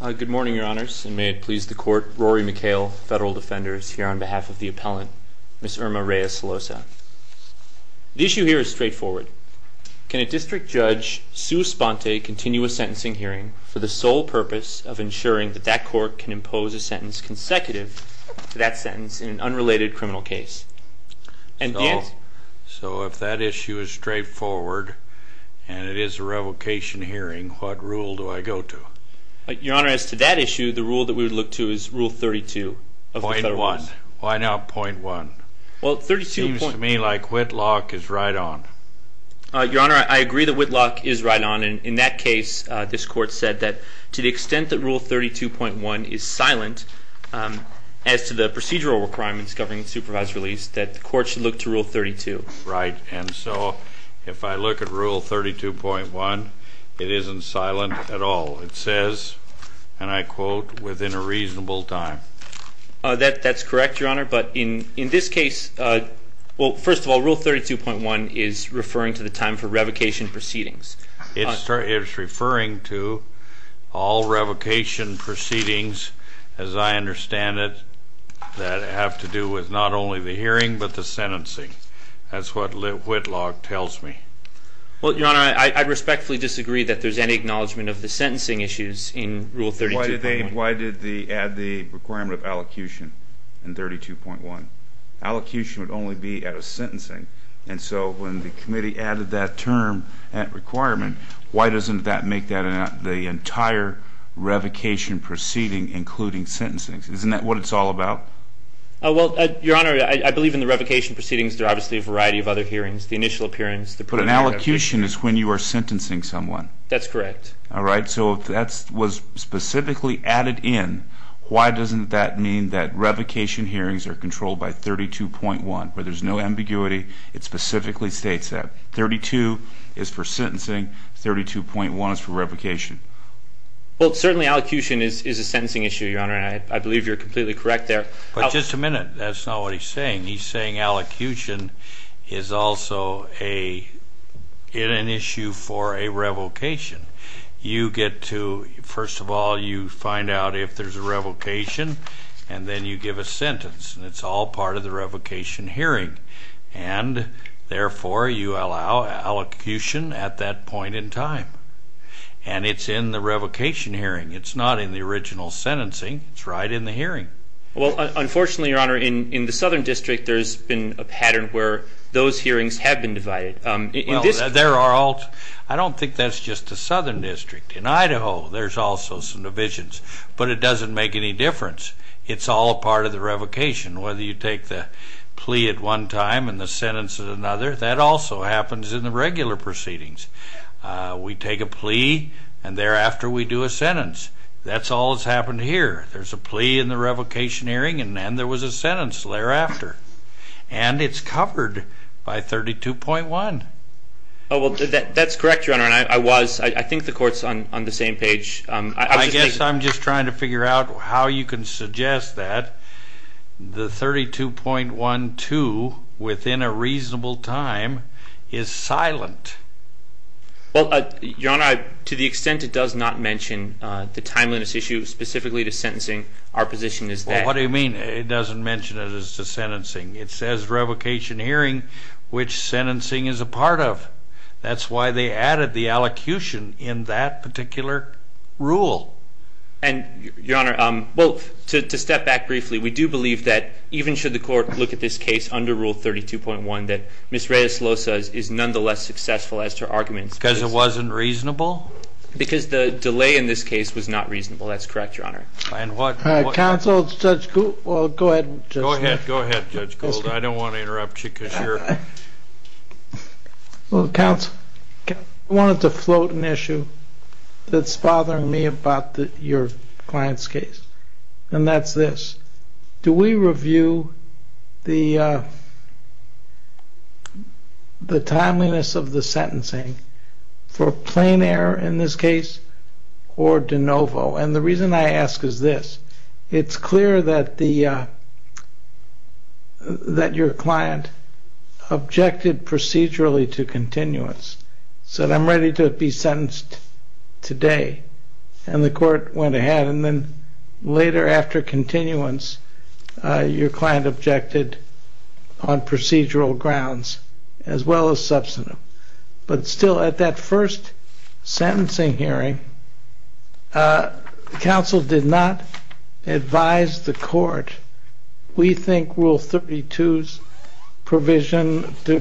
Good morning, Your Honors, and may it please the Court, Rory McHale, Federal Defenders, here on behalf of the Appellant, Ms. Irma Reyes-Solosa. The issue here is straightforward. Can a district judge sue Sponte, continue a sentencing hearing for the sole purpose of ensuring that that court can impose a sentence consecutive to that sentence in an unrelated criminal case? So if that issue is straightforward and it is a revocation hearing, what rule do I go to? Your Honor, as to that issue, the rule that we would look to is Rule 32 of the Federal Rules. Point one. Why not point one? Well, 32. It seems to me like Whitlock is right on. Your Honor, I agree that Whitlock is right on, and in that case, this Court said that to the extent that Rule 32.1 is silent, as to the procedural requirements governing supervised release, that the Court should look to Rule 32. Right, and so if I look at Rule 32.1, it isn't silent at all. It says, and I quote, within a reasonable time. That's correct, Your Honor, but in this case, well, first of all, Rule 32.1 is referring to the time for revocation proceedings. It's referring to all revocation proceedings, as I understand it, that have to do with not only the hearing, but the sentencing. That's what Whitlock tells me. Well, Your Honor, I respectfully disagree that there's any acknowledgment of the sentencing issues in Rule 32.1. Why did they add the requirement of allocution in 32.1? Allocution would only be at a sentencing, and so when the committee added that term, that requirement, why doesn't that make that the entire revocation proceeding, including sentencing? Isn't that what it's all about? Well, Your Honor, I believe in the revocation proceedings, there are obviously a variety of other hearings. The initial appearance, the preliminary appearance. But an allocution is when you are sentencing someone. That's correct. All right. So if that was specifically added in, why doesn't that mean that revocation hearings are controlled by 32.1, where there's no ambiguity? It specifically states that. 32 is for sentencing. 32.1 is for revocation. Well, certainly, allocution is a sentencing issue, Your Honor, and I believe you're completely correct there. But just a minute. That's not what he's saying. He's saying allocution is also an issue for a revocation. You get to, first of all, you find out if there's a revocation, and then you give a sentence, and it's all part of the revocation hearing. And, therefore, you allow allocution at that point in time. And it's in the revocation hearing. It's not in the original sentencing. It's right in the hearing. Well, unfortunately, Your Honor, in the Southern District, there's been a pattern where those hearings have been divided. Well, there are all – I don't think that's just the Southern District. In Idaho, there's also some divisions. But it doesn't make any difference. It's all a part of the revocation, whether you take the plea at one time and the sentence at another. That also happens in the regular proceedings. We take a plea, and thereafter we do a sentence. That's all that's happened here. There's a plea in the revocation hearing, and then there was a sentence thereafter. And it's covered by 32.1. Oh, well, that's correct, Your Honor, and I was. I think the Court's on the same page. I guess I'm just trying to figure out how you can suggest that the 32.12, within a reasonable time, is silent. Well, Your Honor, to the extent it does not mention the timeliness issue specifically to sentencing, our position is that. Well, what do you mean it doesn't mention it as to sentencing? It says revocation hearing, which sentencing is a part of. That's why they added the allocution in that particular rule. And, Your Honor, well, to step back briefly, we do believe that even should the Court look at this case under Rule 32.1, that Ms. Reyes-Losa is nonetheless successful as to her arguments. Because it wasn't reasonable? Because the delay in this case was not reasonable. That's correct, Your Honor. Counsel, Judge Gould. Go ahead. Go ahead, Judge Gould. I don't want to interrupt you because you're. Counsel, I wanted to float an issue that's bothering me about your client's case, and that's this. Do we review the timeliness of the sentencing for plain error in this case or de novo? And the reason I ask is this. It's clear that your client objected procedurally to continuance, said, I'm ready to be sentenced today. And the Court went ahead, and then later after continuance, your client objected on procedural grounds as well as substantive. But still, at that first sentencing hearing, counsel did not advise the Court. We think Rule 32's provision to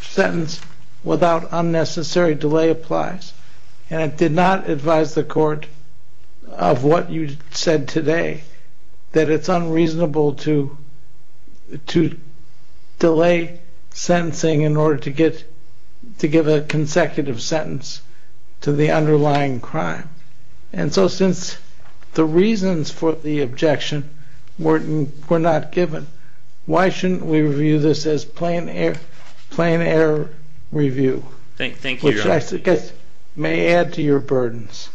sentence without unnecessary delay applies. And it did not advise the Court of what you said today, that it's unreasonable to delay sentencing in order to give a consecutive sentence to the underlying crime. And so since the reasons for the objection were not given, why shouldn't we review this as plain error review? Thank you, Your Honor. Which I guess may add to your burdens.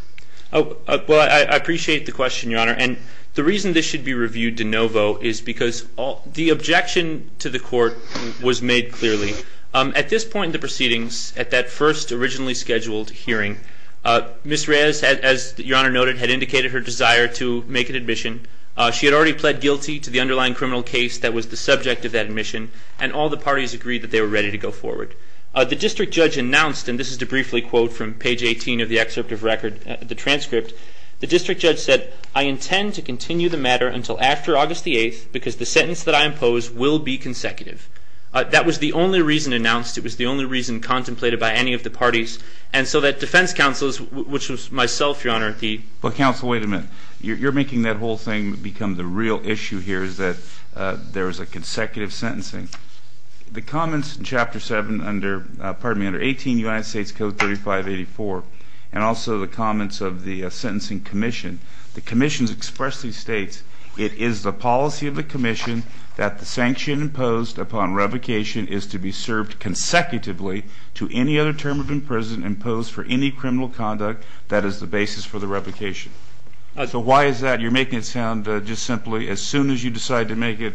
Well, I appreciate the question, Your Honor. And the reason this should be reviewed de novo is because the objection to the Court was made clearly. At this point in the proceedings, at that first originally scheduled hearing, Ms. Reyes, as Your Honor noted, had indicated her desire to make an admission. She had already pled guilty to the underlying criminal case that was the subject of that admission. And all the parties agreed that they were ready to go forward. The district judge announced, and this is to briefly quote from page 18 of the excerpt of record, the transcript. The district judge said, I intend to continue the matter until after August the 8th, because the sentence that I impose will be consecutive. That was the only reason announced. It was the only reason contemplated by any of the parties. And so that defense counsels, which was myself, Your Honor, the- But counsel, wait a minute. You're making that whole thing become the real issue here, is that there is a consecutive sentencing. The comments in Chapter 7 under, pardon me, under 18 United States Code 3584, and also the comments of the sentencing commission, the commission expressly states, it is the policy of the commission that the sanction imposed upon revocation is to be served consecutively to any other term of imprisonment imposed for any criminal conduct that is the basis for the revocation. So why is that? You're making it sound just simply, as soon as you decide to make it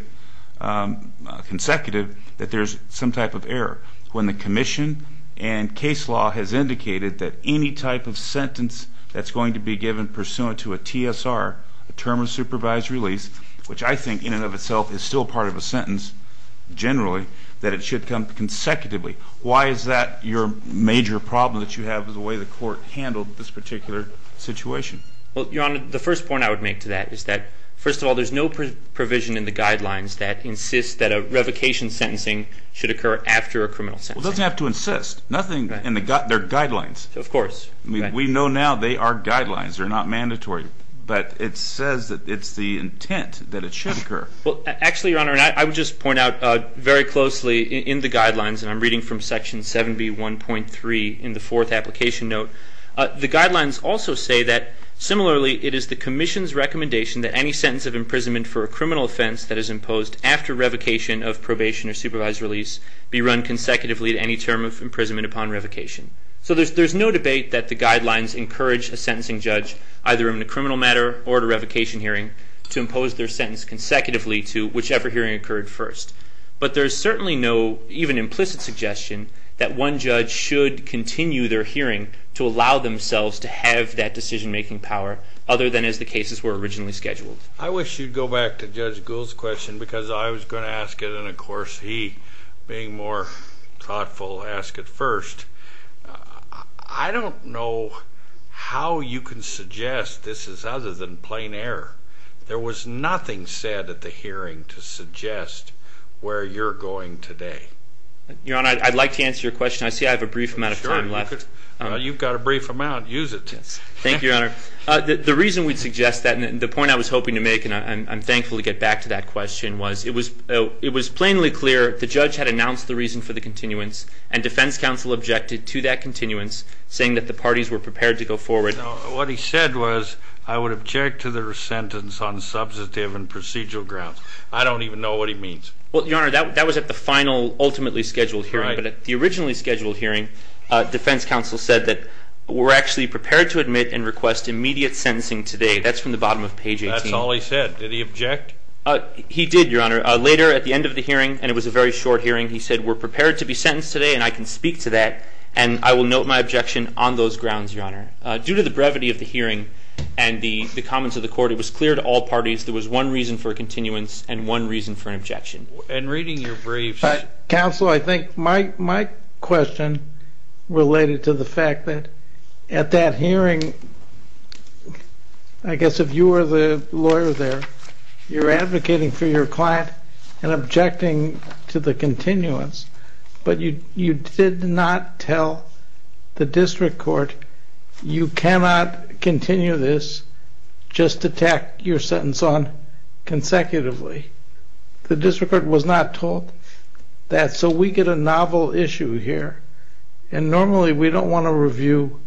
consecutive, that there's some type of error. When the commission and case law has indicated that any type of sentence that's going to be given pursuant to a TSR, a term of supervised release, which I think in and of itself is still part of a sentence generally, that it should come consecutively. Why is that your major problem that you have with the way the court handled this particular situation? Well, Your Honor, the first point I would make to that is that, first of all, there's no provision in the guidelines that insists that a revocation sentencing should occur after a criminal sentencing. Well, it doesn't have to insist. Nothing in their guidelines. Of course. We know now they are guidelines. They're not mandatory. But it says that it's the intent that it should occur. Well, actually, Your Honor, I would just point out very closely in the guidelines, and I'm reading from Section 7B1.3 in the fourth application note, the guidelines also say that, similarly, it is the commission's recommendation that any sentence of imprisonment for a criminal offense that is imposed after revocation of probation or supervised release be run consecutively at any term of imprisonment upon revocation. So there's no debate that the guidelines encourage a sentencing judge, either in a criminal matter or at a revocation hearing, to impose their sentence consecutively to whichever hearing occurred first. But there's certainly no even implicit suggestion that one judge should continue their hearing to allow themselves to have that decision-making power other than as the cases were originally scheduled. I wish you'd go back to Judge Gould's question because I was going to ask it, and, of course, he, being more thoughtful, asked it first. I don't know how you can suggest this is other than plain error. There was nothing said at the hearing to suggest where you're going today. Your Honor, I'd like to answer your question. I see I have a brief amount of time left. Well, you've got a brief amount. Use it. Thank you, Your Honor. The reason we'd suggest that, and the point I was hoping to make, and I'm thankful to get back to that question, was it was plainly clear the judge had announced the reason for the continuance, and defense counsel objected to that continuance, saying that the parties were prepared to go forward. What he said was, I would object to their sentence on substantive and procedural grounds. I don't even know what he means. Well, Your Honor, that was at the final, ultimately scheduled hearing. But at the originally scheduled hearing, defense counsel said that we're actually prepared to admit and request immediate sentencing today. That's from the bottom of page 18. Did he object? He did, Your Honor. Later, at the end of the hearing, and it was a very short hearing, he said, we're prepared to be sentenced today, and I can speak to that, and I will note my objection on those grounds, Your Honor. Due to the brevity of the hearing and the comments of the court, it was clear to all parties there was one reason for a continuance and one reason for an objection. In reading your briefs. Counsel, I think my question related to the fact that at that hearing, I guess if you were the lawyer there, you're advocating for your client and objecting to the continuance, but you did not tell the district court you cannot continue this just to tack your sentence on consecutively. The district court was not told that, so we get a novel issue here, and normally we don't want to review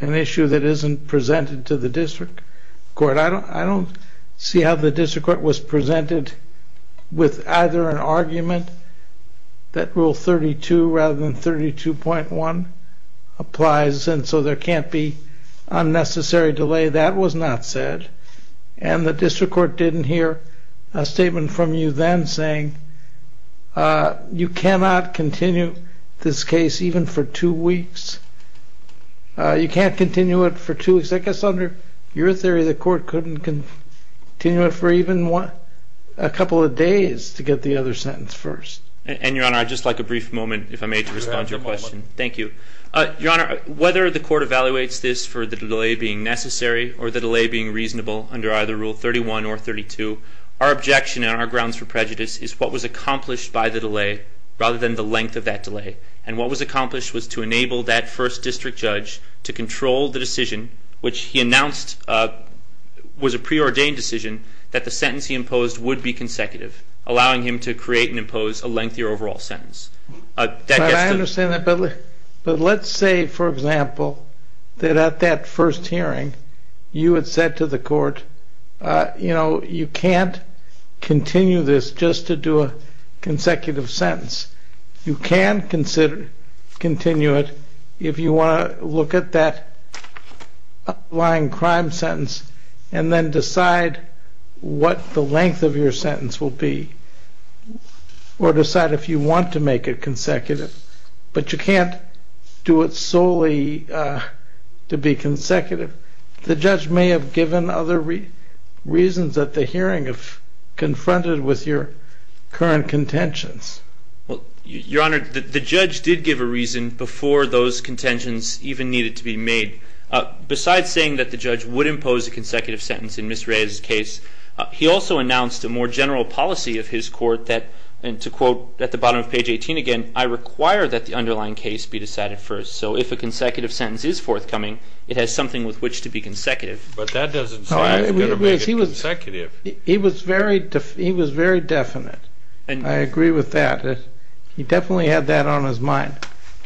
an issue that isn't presented to the district court. I don't see how the district court was presented with either an argument that Rule 32 rather than 32.1 applies, and so there can't be unnecessary delay. That was not said, and the district court didn't hear a statement from you then saying, you cannot continue this case even for two weeks. You can't continue it for two weeks. I guess under your theory, the court couldn't continue it for even a couple of days to get the other sentence first. And, Your Honor, I'd just like a brief moment, if I may, to respond to your question. Thank you. Your Honor, whether the court evaluates this for the delay being necessary or the delay being reasonable under either Rule 31 or 32, our objection and our grounds for prejudice is what was accomplished by the delay rather than the length of that delay, and what was accomplished was to enable that first district judge to control the decision, which he announced was a preordained decision that the sentence he imposed would be consecutive, allowing him to create and impose a lengthier overall sentence. I understand that, but let's say, for example, that at that first hearing you had said to the court, you know, you can't continue this just to do a consecutive sentence. You can continue it if you want to look at that underlying crime sentence and then decide what the length of your sentence will be or decide if you want to make it consecutive. But you can't do it solely to be consecutive. The judge may have given other reasons at the hearing if confronted with your current contentions. Well, Your Honor, the judge did give a reason before those contentions even needed to be made. Besides saying that the judge would impose a consecutive sentence in Ms. Reyes' case, he also announced a more general policy of his court that, and to quote at the bottom of page 18 again, I require that the underlying case be decided first. So if a consecutive sentence is forthcoming, it has something with which to be consecutive. But that doesn't say it's going to make it consecutive. He was very definite. I agree with that. He definitely had that on his mind.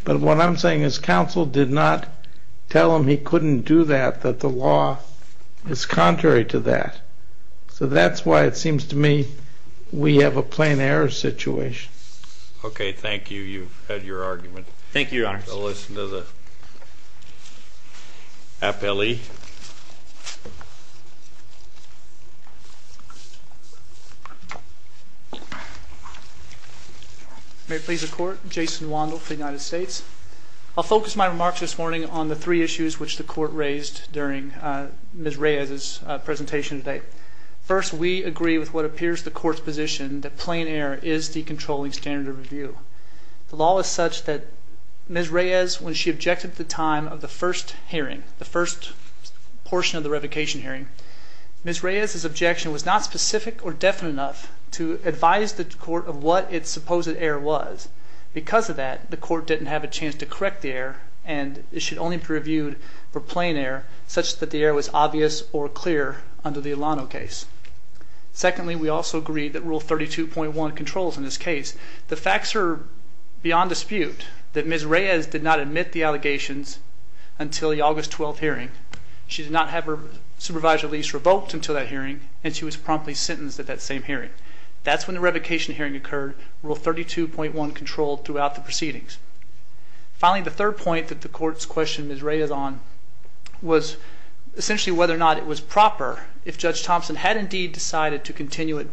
But what I'm saying is counsel did not tell him he couldn't do that, that the law is contrary to that. So that's why it seems to me we have a plain error situation. Okay, thank you. You've had your argument. Thank you, Your Honors. I'll listen to the appellee. May it please the Court, Jason Wandel for the United States. I'll focus my remarks this morning on the three issues which the Court raised during Ms. Reyes' presentation today. First, we agree with what appears the Court's position that plain error is the controlling standard of review. The law is such that Ms. Reyes, when she objected at the time of the first hearing, the first portion of the revocation hearing, Ms. Reyes' objection was not specific or definite enough to advise the Court of what its supposed error was. Because of that, the Court didn't have a chance to correct the error, and it should only be reviewed for plain error such that the error was obvious or clear under the Alano case. Secondly, we also agree that Rule 32.1 controls in this case. The facts are beyond dispute that Ms. Reyes did not admit the allegations until the August 12th hearing. She did not have her supervisory lease revoked until that hearing, and she was promptly sentenced at that same hearing. That's when the revocation hearing occurred. Rule 32.1 controlled throughout the proceedings. Finally, the third point that the Court's question Ms. Reyes on was essentially whether or not it was proper if Judge Thompson had indeed decided to continue it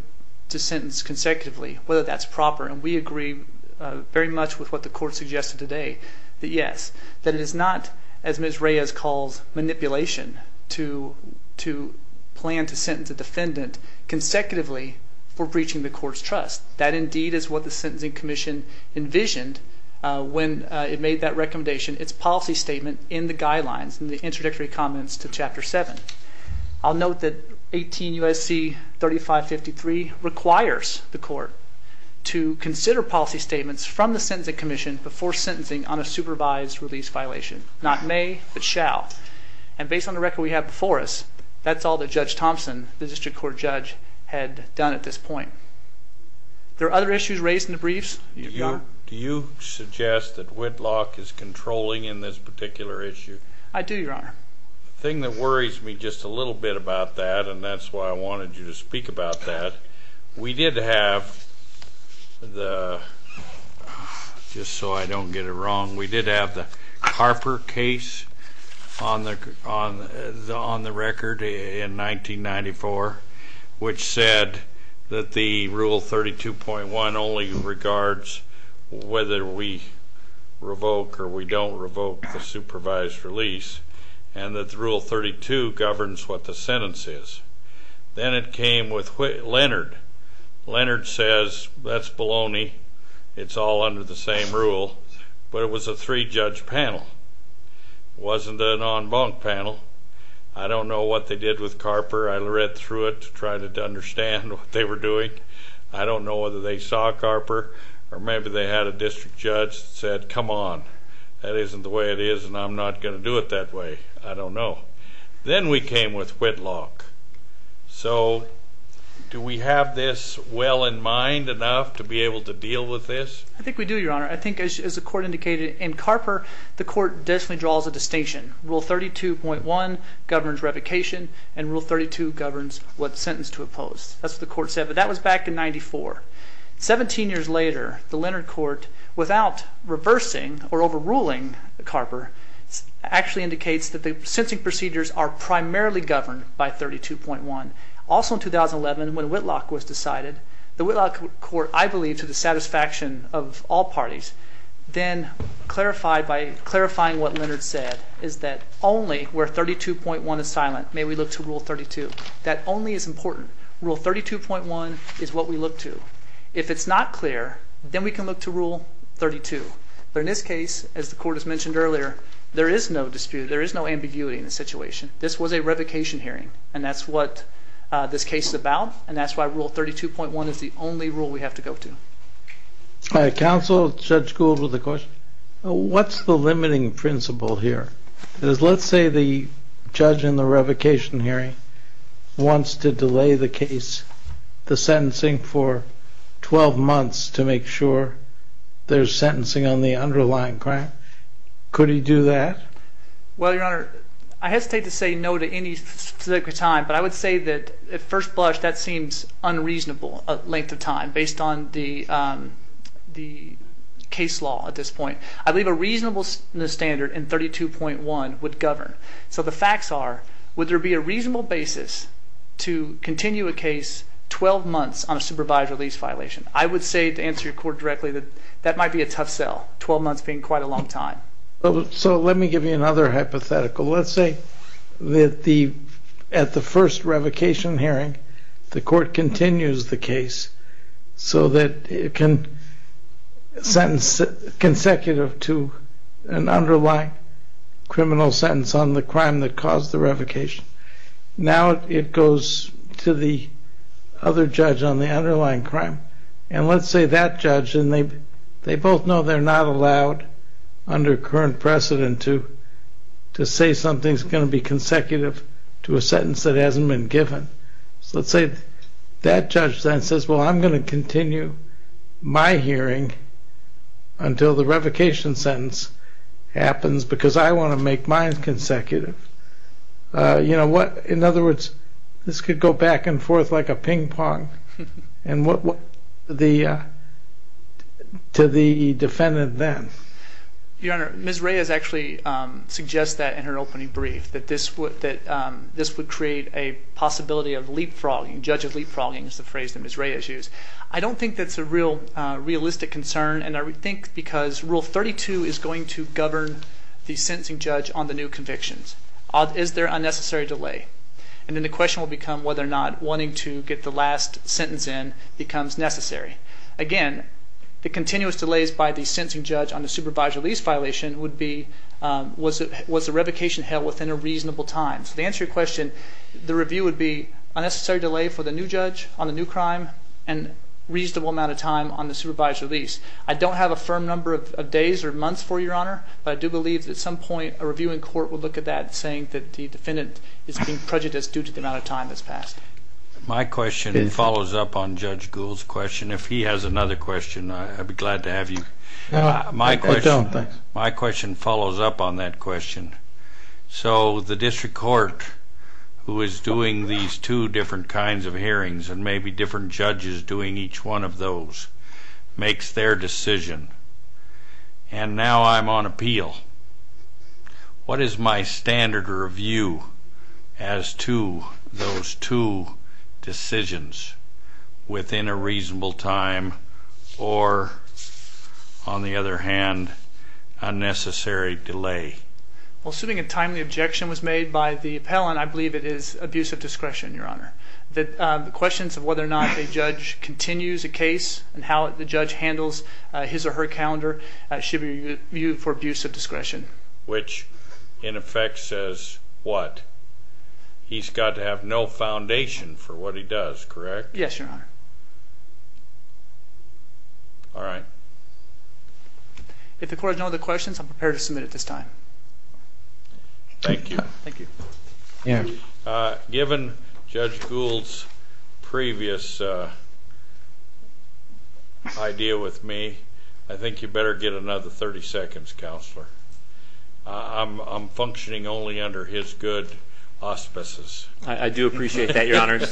to sentence consecutively, whether that's proper. And we agree very much with what the Court suggested today that yes, that it is not, as Ms. Reyes calls, manipulation to plan to sentence a defendant consecutively for breaching the Court's trust. That indeed is what the Sentencing Commission envisioned when it made that recommendation, its policy statement in the guidelines in the introductory comments to Chapter 7. I'll note that 18 U.S.C. 3553 requires the Court to consider policy statements from the Sentencing Commission before sentencing on a supervised release violation. Not may, but shall. And based on the record we have before us, that's all that Judge Thompson, the District Court judge, had done at this point. There are other issues raised in the briefs. Do you suggest that Whitlock is controlling in this particular issue? I do, Your Honor. The thing that worries me just a little bit about that, and that's why I wanted you to speak about that, we did have the, just so I don't get it wrong, we did have the Harper case on the record in 1994, which said that the Rule 32.1 only regards whether we revoke or we don't revoke the supervised release, and that the Rule 32 governs what the sentence is. Then it came with Leonard. Leonard says that's baloney, it's all under the same rule, but it was a three-judge panel. It wasn't an en banc panel. I don't know what they did with Carper. I read through it to try to understand what they were doing. I don't know whether they saw Carper, or maybe they had a district judge that said, come on, that isn't the way it is and I'm not going to do it that way. I don't know. Then we came with Whitlock. So do we have this well in mind enough to be able to deal with this? I think we do, Your Honor. I think, as the Court indicated, in Carper, the Court definitely draws a distinction. Rule 32.1 governs revocation, and Rule 32 governs what sentence to oppose. That's what the Court said, but that was back in 1994. Seventeen years later, the Leonard Court, without reversing or overruling Carper, actually indicates that the sentencing procedures are primarily governed by 32.1. Also in 2011, when Whitlock was decided, the Whitlock Court, I believe to the satisfaction of all parties, then clarified by clarifying what Leonard said, is that only where 32.1 is silent may we look to Rule 32. That only is important. Rule 32.1 is what we look to. If it's not clear, then we can look to Rule 32. But in this case, as the Court has mentioned earlier, there is no dispute. There is no ambiguity in the situation. This was a revocation hearing, and that's what this case is about, and that's why Rule 32.1 is the only rule we have to go to. Counsel, Judge Gould with a question. What's the limiting principle here? Let's say the judge in the revocation hearing wants to delay the case, the sentencing for 12 months, to make sure there's sentencing on the underlying grant. Could he do that? Well, Your Honor, I hesitate to say no to any specific time, but I would say that at first blush that seems unreasonable length of time based on the case law at this point. I believe a reasonable standard in 32.1 would govern. So the facts are, would there be a reasonable basis to continue a case 12 months on a supervised release violation? I would say, to answer your court directly, that that might be a tough sell, 12 months being quite a long time. So let me give you another hypothetical. Let's say that at the first revocation hearing, the Court continues the case so that it can sentence consecutive to an underlying criminal sentence on the crime that caused the revocation. Now it goes to the other judge on the underlying crime. And let's say that judge, and they both know they're not allowed under current precedent to say something's going to be consecutive to a sentence that hasn't been given. So let's say that judge then says, well I'm going to continue my hearing until the revocation sentence happens because I want to make mine consecutive. You know what, in other words, this could go back and forth like a ping pong to the defendant then. Your Honor, Ms. Reyes actually suggests that in her opening brief, that this would create a possibility of leapfrogging. Judge of leapfrogging is the phrase that Ms. Reyes used. I don't think that's a real realistic concern, and I think because Rule 32 is going to govern the sentencing judge on the new convictions. Is there a necessary delay? And then the question will become whether or not wanting to get the last sentence in becomes necessary. Again, the continuous delays by the sentencing judge on the supervised release violation was the revocation held within a reasonable time. So to answer your question, the review would be a necessary delay for the new judge on the new crime and a reasonable amount of time on the supervised release. I don't have a firm number of days or months for you, Your Honor, but I do believe that at some point a review in court would look at that saying that the defendant is being prejudiced due to the amount of time that's passed. My question follows up on Judge Gould's question. If he has another question, I'd be glad to have you. My question follows up on that question. So the district court who is doing these two different kinds of hearings and maybe different judges doing each one of those makes their decision, and now I'm on appeal. What is my standard review as to those two decisions within a reasonable time or, on the other hand, a necessary delay? Assuming a timely objection was made by the appellant, I believe it is abuse of discretion, Your Honor. The questions of whether or not a judge continues a case and how the judge handles his or her calendar should be viewed for abuse of discretion. Which, in effect, says what? He's got to have no foundation for what he does, correct? Yes, Your Honor. All right. If the court has no other questions, I'm prepared to submit at this time. Thank you. Thank you. Given Judge Gould's previous idea with me, I think you better get another 30 seconds, Counselor. I'm functioning only under his good auspices. I do appreciate that, Your Honors.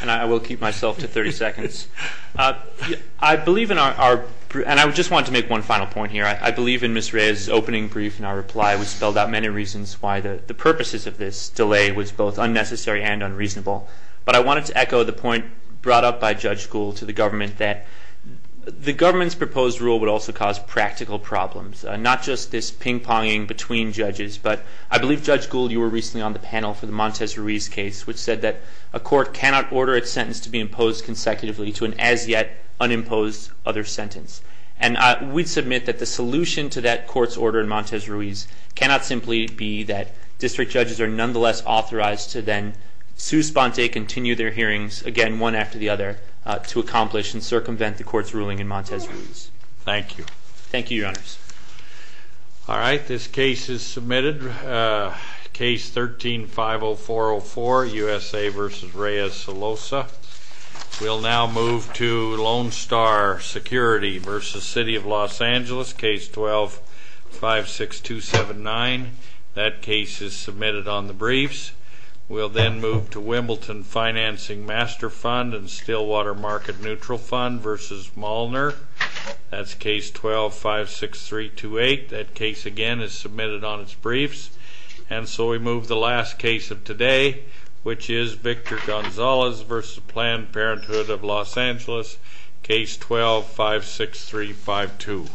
And I will keep myself to 30 seconds. I believe in our – and I just wanted to make one final point here. I believe in Ms. Rhea's opening brief and our reply. We spelled out many reasons why the purposes of this delay was both unnecessary and unreasonable. But I wanted to echo the point brought up by Judge Gould to the government that the government's proposed rule would also cause practical problems, not just this ping-ponging between judges. But I believe, Judge Gould, you were recently on the panel for the Montes Ruiz case, which said that a court cannot order its sentence to be imposed consecutively to an as-yet unimposed other sentence. And we submit that the solution to that court's order in Montes Ruiz cannot simply be that district judges are nonetheless authorized to then sous-spente, again, one after the other, to accomplish and circumvent the court's ruling in Montes Ruiz. Thank you. Thank you, Your Honors. All right, this case is submitted. Case 13-50404, USA v. Rhea Salosa. We'll now move to Lone Star Security v. City of Los Angeles, case 12-56279. That case is submitted on the briefs. We'll then move to Wimbledon Financing Master Fund and Stillwater Market Neutral Fund v. Molnar. That's case 12-56328. That case, again, is submitted on its briefs. And so we move to the last case of today, which is Victor Gonzalez v. Planned Parenthood of Los Angeles, case 12-56352.